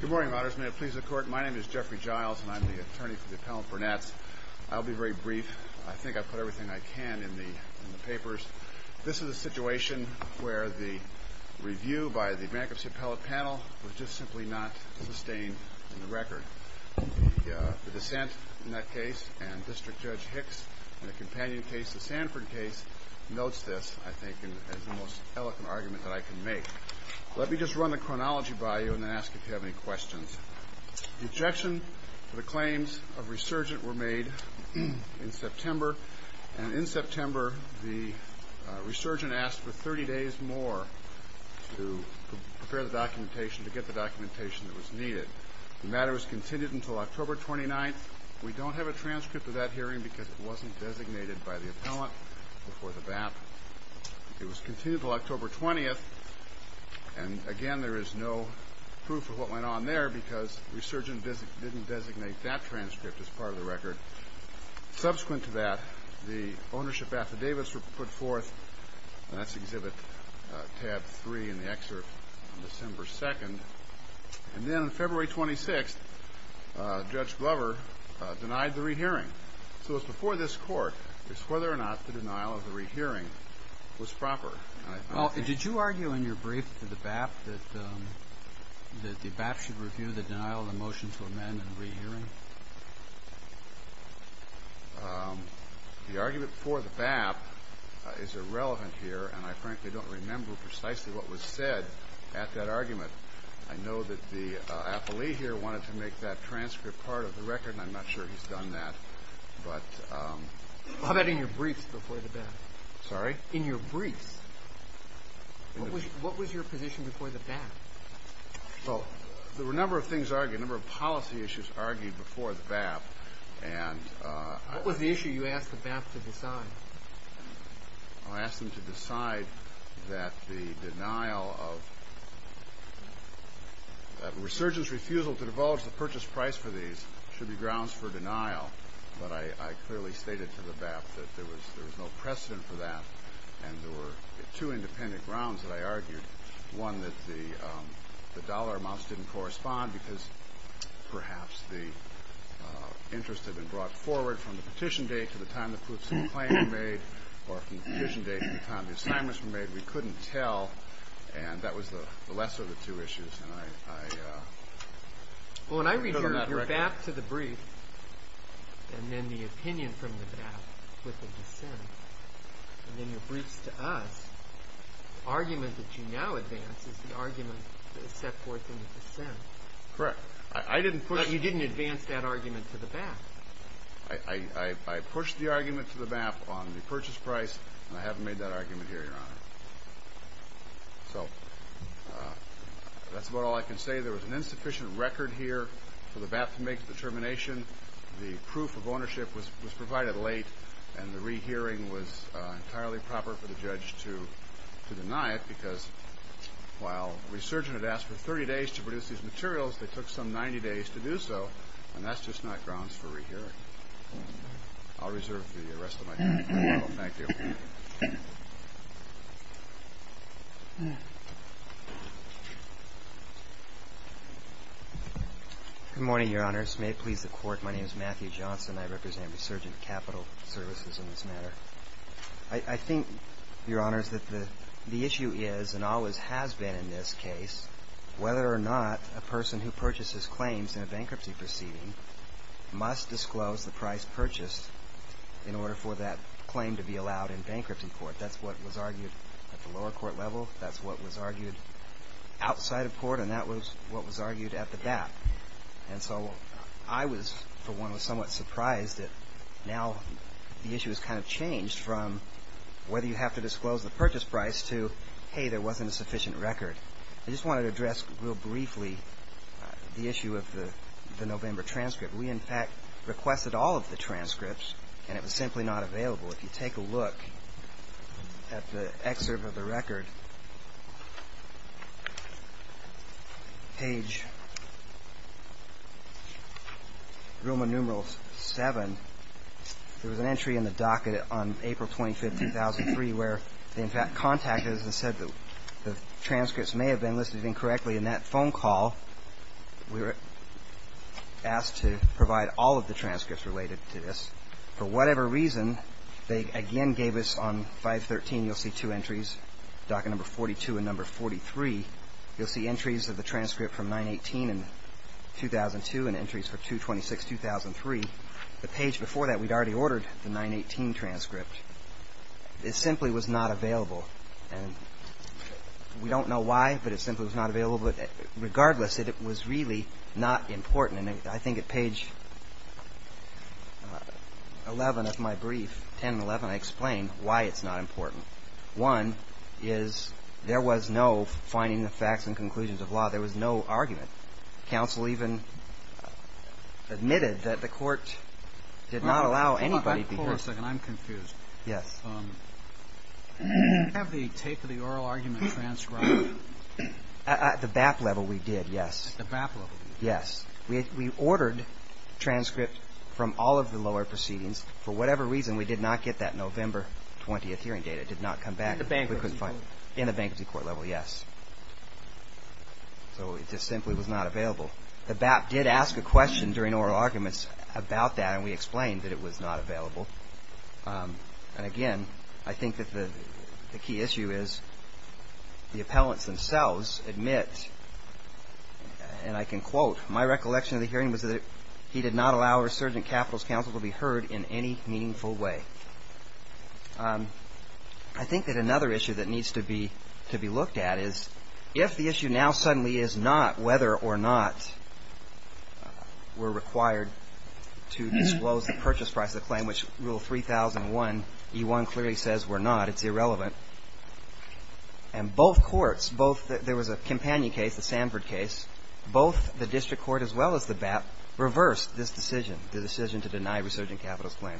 Good morning, Your Honor. May it please the Court, my name is Jeffrey Giles, and I am the attorney for the Appellant Burnett. I'll be very brief. I think I've put everything I can in the papers. This is a situation where the review by the bankruptcy appellate panel was just simply not sustained in the record. The dissent in that case and District Judge Hicks in the companion case, the Sanford case, notes this, I think, as the most eloquent argument that I can make. Let me just run the chronology by you and then ask if you have any questions. The objection to the claims of resurgent were made in September, and in September the resurgent asked for 30 days more to prepare the documentation, to get the documentation that was needed. The matter was continued until October 29th. We don't have a transcript of that hearing because it wasn't designated by the appellant before the bat. It was continued until October 20th, and again, there is no proof of what went on there because resurgent didn't designate that transcript as part of the record. Subsequent to that, the ownership affidavits were put forth, and that's exhibit tab 3 in the excerpt on December 2nd. And then on February 26th, Judge Glover denied the rehearing. So it was before this court as to whether or not the denial of the rehearing was proper. Well, did you argue in your brief to the BAP that the BAP should review the denial of the motion to amend the rehearing? The argument for the BAP is irrelevant here, and I frankly don't remember precisely what was said at that argument. I know that the appellee here wanted to make that transcript part of the record, and I'm not sure he's done that. How about in your briefs before the BAP? Sorry? In your briefs. What was your position before the BAP? Well, there were a number of things argued, a number of policy issues argued before the BAP. What was the issue you asked the BAP to decide? I asked them to decide that the denial of resurgence refusal to divulge the purchase price for these should be grounds for denial. But I clearly stated to the BAP that there was no precedent for that, and there were two independent grounds that I argued. One, that the dollar amounts didn't correspond because perhaps the interest had been brought forward from the petition date to the time the proofs of the claim were made, or from the petition date to the time the assignments were made. We couldn't tell, and that was the lesser of the two issues. Well, when I read your BAP to the brief, and then the opinion from the BAP with the dissent, and then your briefs to us, the argument that you now advance is the argument that was set forth in the dissent. Correct. But you didn't advance that argument to the BAP. I pushed the argument to the BAP on the purchase price, and I haven't made that argument here, Your Honor. So that's about all I can say. There was an insufficient record here for the BAP to make a determination. The proof of ownership was provided late, and the rehearing was entirely proper for the judge to deny it because while resurgent had asked for 30 days to produce these materials, they took some 90 days to do so, and that's just not grounds for rehearing. I'll reserve the rest of my time. Thank you. Good morning, Your Honors. May it please the Court, my name is Matthew Johnson. I represent Resurgent Capital Services in this matter. I think, Your Honors, that the issue is and always has been in this case whether or not a person who purchases claims in a bankruptcy proceeding must disclose the price purchased in order for that claim to be allowed in bankruptcy court. That's what was argued at the lower court level. That's what was argued outside of court, and that was what was argued at the BAP. And so I was, for one, somewhat surprised that now the issue has kind of changed from whether you have to disclose the purchase price to, hey, there wasn't a sufficient record. I just wanted to address real briefly the issue of the November transcript. We, in fact, requested all of the transcripts, and it was simply not available. If you take a look at the excerpt of the record, page Roman numeral 7, there was an entry in the docket on April 25, 2003, where they, in fact, contacted us and said that the transcripts may have been listed incorrectly in that phone call. We were asked to provide all of the transcripts related to this. For whatever reason, they again gave us on 513, you'll see two entries, docket number 42 and number 43. You'll see entries of the transcript from 918 in 2002 and entries for 226, 2003. The page before that, we'd already ordered the 918 transcript. It simply was not available, and we don't know why, but it simply was not available. Regardless, it was really not important. And I think at page 11 of my brief, 10 and 11, I explain why it's not important. One is there was no finding the facts and conclusions of law. There was no argument. Counsel even admitted that the court did not allow anybody to be heard. Hold on a second. I'm confused. Yes. Did you have the tape of the oral argument transcribed? At the BAP level, we did, yes. At the BAP level? Yes. We ordered transcript from all of the lower proceedings. For whatever reason, we did not get that November 20th hearing date. It did not come back. In the bankruptcy court? In the bankruptcy court level, yes. So it just simply was not available. The BAP did ask a question during oral arguments about that, and we explained that it was not available. And again, I think that the key issue is the appellants themselves admit, and I can quote, my recollection of the hearing was that he did not allow a resurgent capitals counsel to be heard in any meaningful way. I think that another issue that needs to be looked at is if the issue now suddenly is not whether or not we're required to disclose the purchase price of the claim, Rule 3001E1 clearly says we're not. It's irrelevant. And both courts, both there was a Campagna case, the Sanford case, both the district court as well as the BAP reversed this decision, the decision to deny resurgent capitals claim,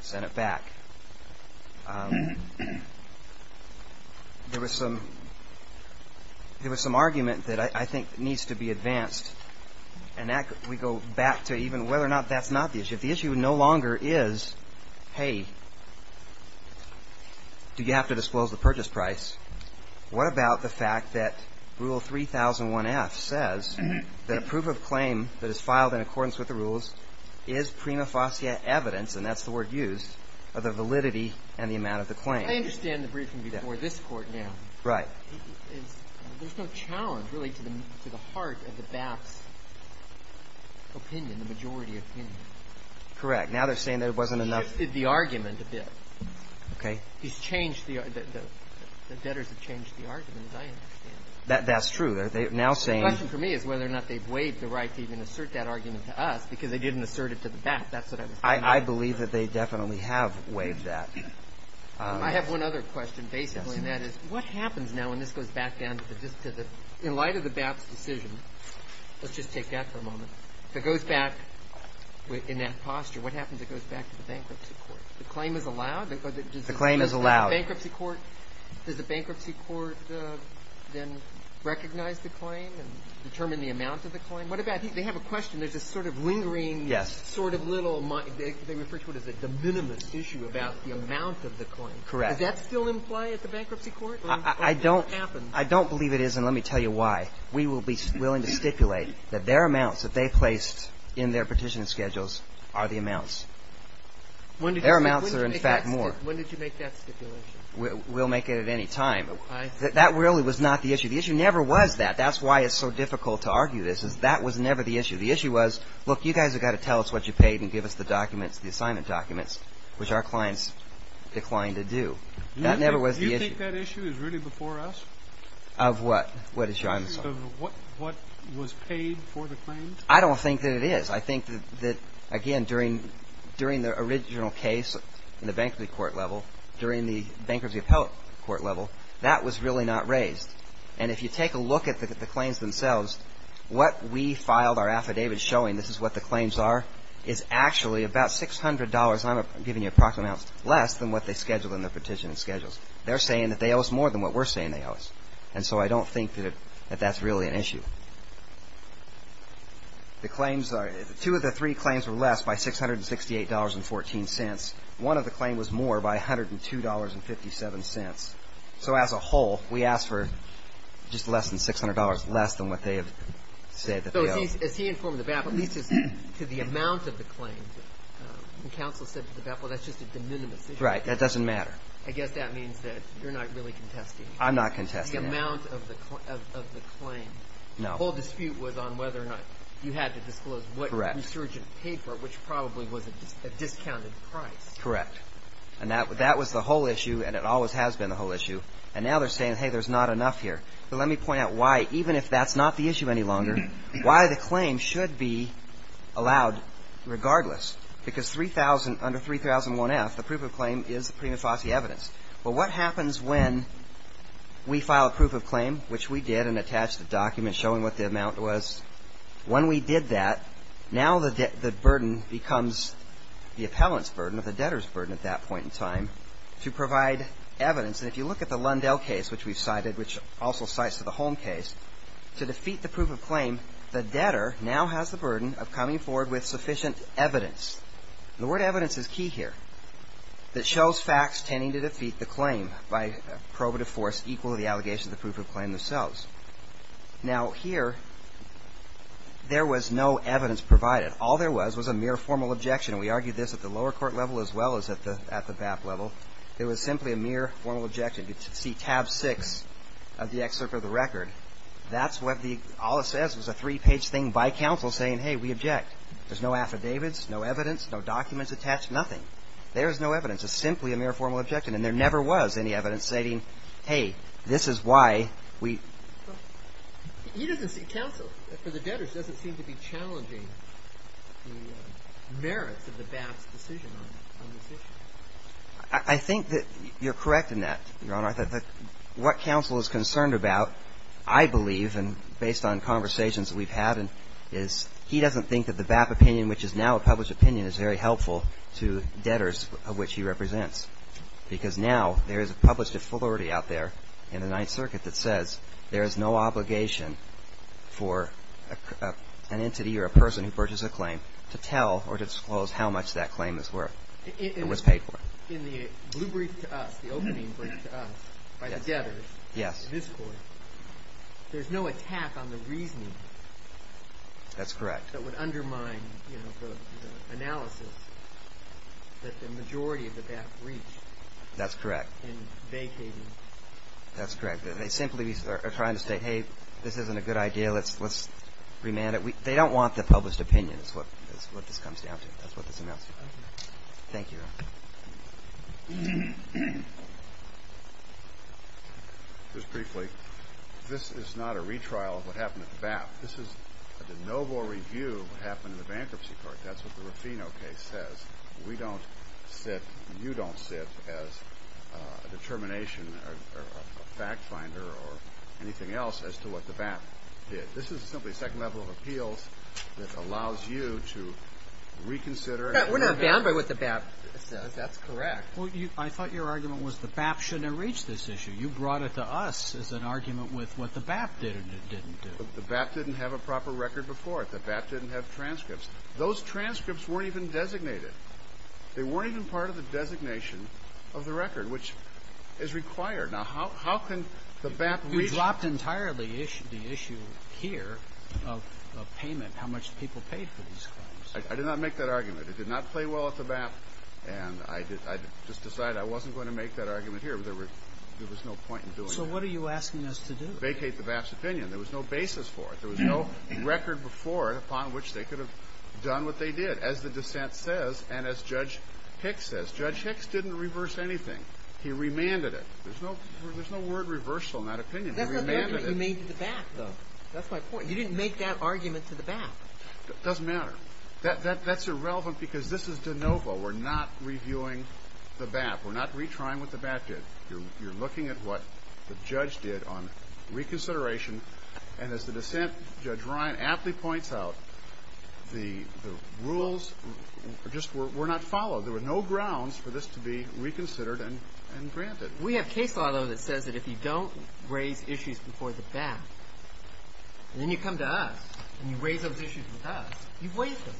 sent it back. There was some argument that I think needs to be advanced, and we go back to even whether or not that's not the issue. If the issue no longer is, hey, do you have to disclose the purchase price, what about the fact that Rule 3001F says that a proof of claim that is filed in accordance with the rules is prima facie evidence, and that's the word used, of the validity and the amount of the claim? I understand the briefing before this Court now. Right. There's no challenge really to the heart of the BAP's opinion, the majority opinion. Correct. Now they're saying there wasn't enough. He shifted the argument a bit. He's changed the argument. The debtors have changed the argument, as I understand it. That's true. They're now saying – The question for me is whether or not they've waived the right to even assert that argument to us, because they didn't assert it to the BAP. That's what I was thinking. I believe that they definitely have waived that. I have one other question, basically, and that is what happens now when this goes back down to the district? Let's just take that for a moment. If it goes back in that posture, what happens if it goes back to the bankruptcy court? The claim is allowed? The claim is allowed. Does the bankruptcy court then recognize the claim and determine the amount of the claim? What about – they have a question. There's this sort of lingering sort of little – they refer to it as a de minimis issue about the amount of the claim. Correct. Does that still imply at the bankruptcy court? I don't believe it is, and let me tell you why. We will be willing to stipulate that their amounts that they placed in their petition schedules are the amounts. Their amounts are, in fact, more. When did you make that stipulation? We'll make it at any time. That really was not the issue. The issue never was that. That's why it's so difficult to argue this, is that was never the issue. The issue was, look, you guys have got to tell us what you paid and give us the documents, the assignment documents, which our clients declined to do. That never was the issue. Do you think that issue is really before us? Of what? What issue? I'm sorry. What was paid for the claims? I don't think that it is. I think that, again, during the original case in the bankruptcy court level, during the bankruptcy appellate court level, that was really not raised. And if you take a look at the claims themselves, what we filed our affidavit showing, this is what the claims are, is actually about $600. I'm giving you approximate amounts less than what they scheduled in their petition schedules. They're saying that they owe us more than what we're saying they owe us. And so I don't think that that's really an issue. The claims are, two of the three claims were less by $668.14. One of the claims was more by $102.57. So as a whole, we asked for just less than $600 less than what they have said that they owe us. So as he informed the BAP, at least as to the amount of the claims, the counsel said to the BAP, well, that's just a de minimis issue. Right. That doesn't matter. I guess that means that you're not really contesting. I'm not contesting that. The amount of the claim. No. The whole dispute was on whether or not you had to disclose what resurgent paper, which probably was a discounted price. Correct. And that was the whole issue, and it always has been the whole issue. And now they're saying, hey, there's not enough here. But let me point out why, even if that's not the issue any longer, why the claim should be allowed regardless. Because under 3001F, the proof of claim is the prima facie evidence. Well, what happens when we file a proof of claim, which we did and attached a document showing what the amount was? When we did that, now the burden becomes the appellant's burden or the debtor's burden at that point in time to provide evidence. And if you look at the Lundell case, which we've cited, which also cites the Holm case, to defeat the proof of claim, the debtor now has the burden of coming forward with sufficient evidence. The word evidence is key here. It shows facts tending to defeat the claim by probative force equal to the allegation of the proof of claim themselves. Now, here, there was no evidence provided. All there was was a mere formal objection. We argued this at the lower court level as well as at the BAP level. It was simply a mere formal objection. You can see tab six of the excerpt of the record. That's what the – all it says was a three-page thing by counsel saying, hey, we object. There's no affidavits, no evidence, no documents attached, nothing. There is no evidence. It's simply a mere formal objection. And there never was any evidence stating, hey, this is why we – He doesn't – counsel for the debtors doesn't seem to be challenging the merits of the BAP's decision on this issue. I think that you're correct in that, Your Honor. What counsel is concerned about, I believe, and based on conversations that we've had, is he doesn't think that the BAP opinion, which is now a published opinion, is very helpful to debtors, of which he represents, because now there is a published authority out there in the Ninth Circuit that says there is no obligation for an entity or a person who purchases a claim to tell or to disclose how much that claim is worth or was paid for. In the blue brief to us, the opening brief to us by the debtors, this court, there's no attack on the reasoning – That's correct. – that would undermine the analysis that the majority of the BAP reach – That's correct. – in vacating. That's correct. They simply are trying to say, hey, this isn't a good idea. Let's remand it. They don't want the published opinion is what this comes down to. That's what this announces. Thank you. Just briefly, this is not a retrial of what happened at the BAP. This is a de novo review of what happened in the bankruptcy court. That's what the Ruffino case says. We don't sit – you don't sit as a determination or a fact finder or anything else as to what the BAP did. This is simply a second level of appeals that allows you to reconsider – We're not bound by what the BAP says. That's correct. Well, I thought your argument was the BAP shouldn't have reached this issue. You brought it to us as an argument with what the BAP did and didn't do. The BAP didn't have a proper record before it. The BAP didn't have transcripts. Those transcripts weren't even designated. They weren't even part of the designation of the record, which is required. Now, how can the BAP reach – You dropped entirely the issue here of payment, how much people paid for these claims. I did not make that argument. It did not play well at the BAP, and I just decided I wasn't going to make that argument here. There was no point in doing that. So what are you asking us to do? Vacate the BAP's opinion. There was no basis for it. There was no record before it upon which they could have done what they did, as the dissent says and as Judge Hicks says. Judge Hicks didn't reverse anything. He remanded it. There's no word reversal in that opinion. He remanded it. That's not the argument you made to the BAP, though. That's my point. You didn't make that argument to the BAP. It doesn't matter. That's irrelevant because this is de novo. We're not reviewing the BAP. We're not retrying what the BAP did. You're looking at what the judge did on reconsideration, and as the dissent, Judge Ryan, aptly points out, the rules just were not followed. There were no grounds for this to be reconsidered and granted. We have case law, though, that says that if you don't raise issues before the BAP, then you come to us and you raise those issues with us. You've waived them.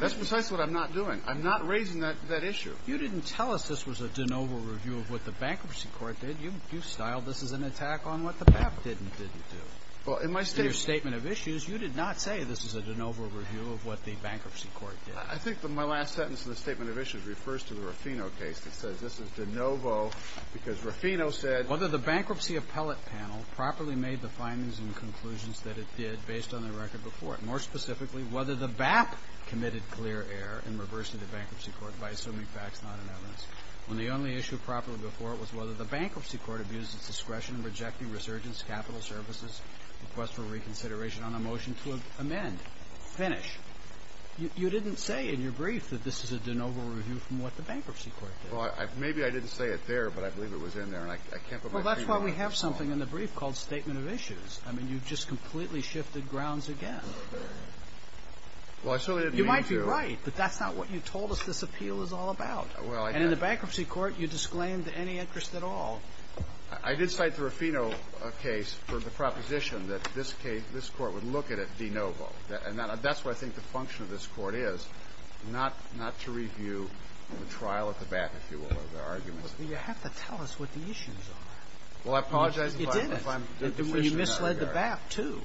That's precisely what I'm not doing. I'm not raising that issue. You didn't tell us this was a de novo review of what the Bankruptcy Court did. You styled this as an attack on what the BAP did and didn't do. Well, in my statement. In your statement of issues, you did not say this is a de novo review of what the Bankruptcy Court did. I think that my last sentence in the statement of issues refers to the Raffino It says this is de novo because Raffino said… Whether the Bankruptcy Appellate Panel properly made the findings and conclusions that it did based on the record before it. More specifically, whether the BAP committed clear error in reversing the Bankruptcy Court by assuming facts not in evidence, when the only issue properly before it was whether the Bankruptcy Court abused its discretion in rejecting resurgence capital services, request for reconsideration on a motion to amend. Finish. You didn't say in your brief that this is a de novo review from what the Bankruptcy Court did. Well, maybe I didn't say it there, but I believe it was in there, and I can't put my finger on it. Well, that's why we have something in the brief called statement of issues. I mean, you've just completely shifted grounds again. Well, I certainly didn't mean to. You might be right, but that's not what you told us this appeal is all about. And in the Bankruptcy Court, you disclaimed any interest at all. I did cite the Raffino case for the proposition that this case, this Court would look at it de novo, and that's what I think the function of this Court is, not to review the trial at the BAP, if you will, or the arguments. Well, you have to tell us what the issues are. Well, I apologize if I'm deficient in that regard. You didn't. You misled the BAP, too.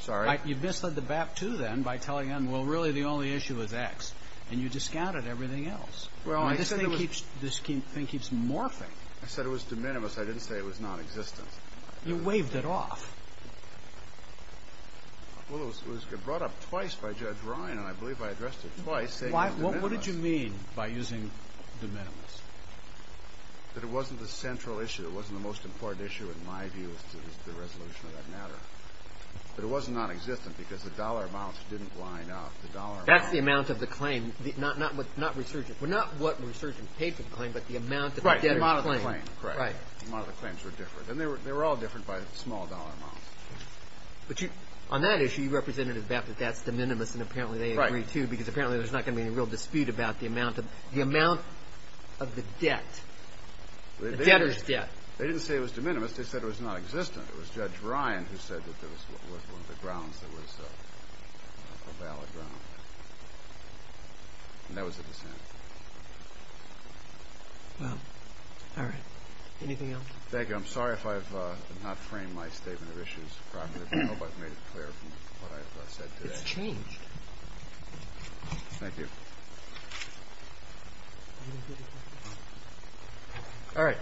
Sorry? You misled the BAP, too, then, by telling them, well, really, the only issue is X, and you discounted everything else. Well, I said it was. This thing keeps morphing. I said it was de minimis. I didn't say it was nonexistent. You waved it off. Well, it was brought up twice by Judge Ryan, and I believe I addressed it twice, saying it was de minimis. Well, what did you mean by using de minimis? That it wasn't the central issue. It wasn't the most important issue, in my view, as to the resolution of that matter. But it was nonexistent because the dollar amounts didn't line up. The dollar amounts. That's the amount of the claim, not resurgent. Well, not what resurgent paid for the claim, but the amount of the claim. Right, the amount of the claim. Correct. The amount of the claims were different, and they were all different by small dollar amounts. But on that issue, you represented the BAP that that's de minimis, and apparently they agree, too, because apparently there's not going to be any real dispute about the amount of the debt. The debtor's debt. They didn't say it was de minimis. They said it was nonexistent. It was Judge Ryan who said that there was one of the grounds that was a valid ground. And that was a dissent. Well, all right. Anything else? Thank you. I'm sorry if I've not framed my statement of issues properly. I hope I've made it clear from what I've said today. Let's change. Thank you. All right.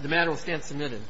The matter will stand submitted.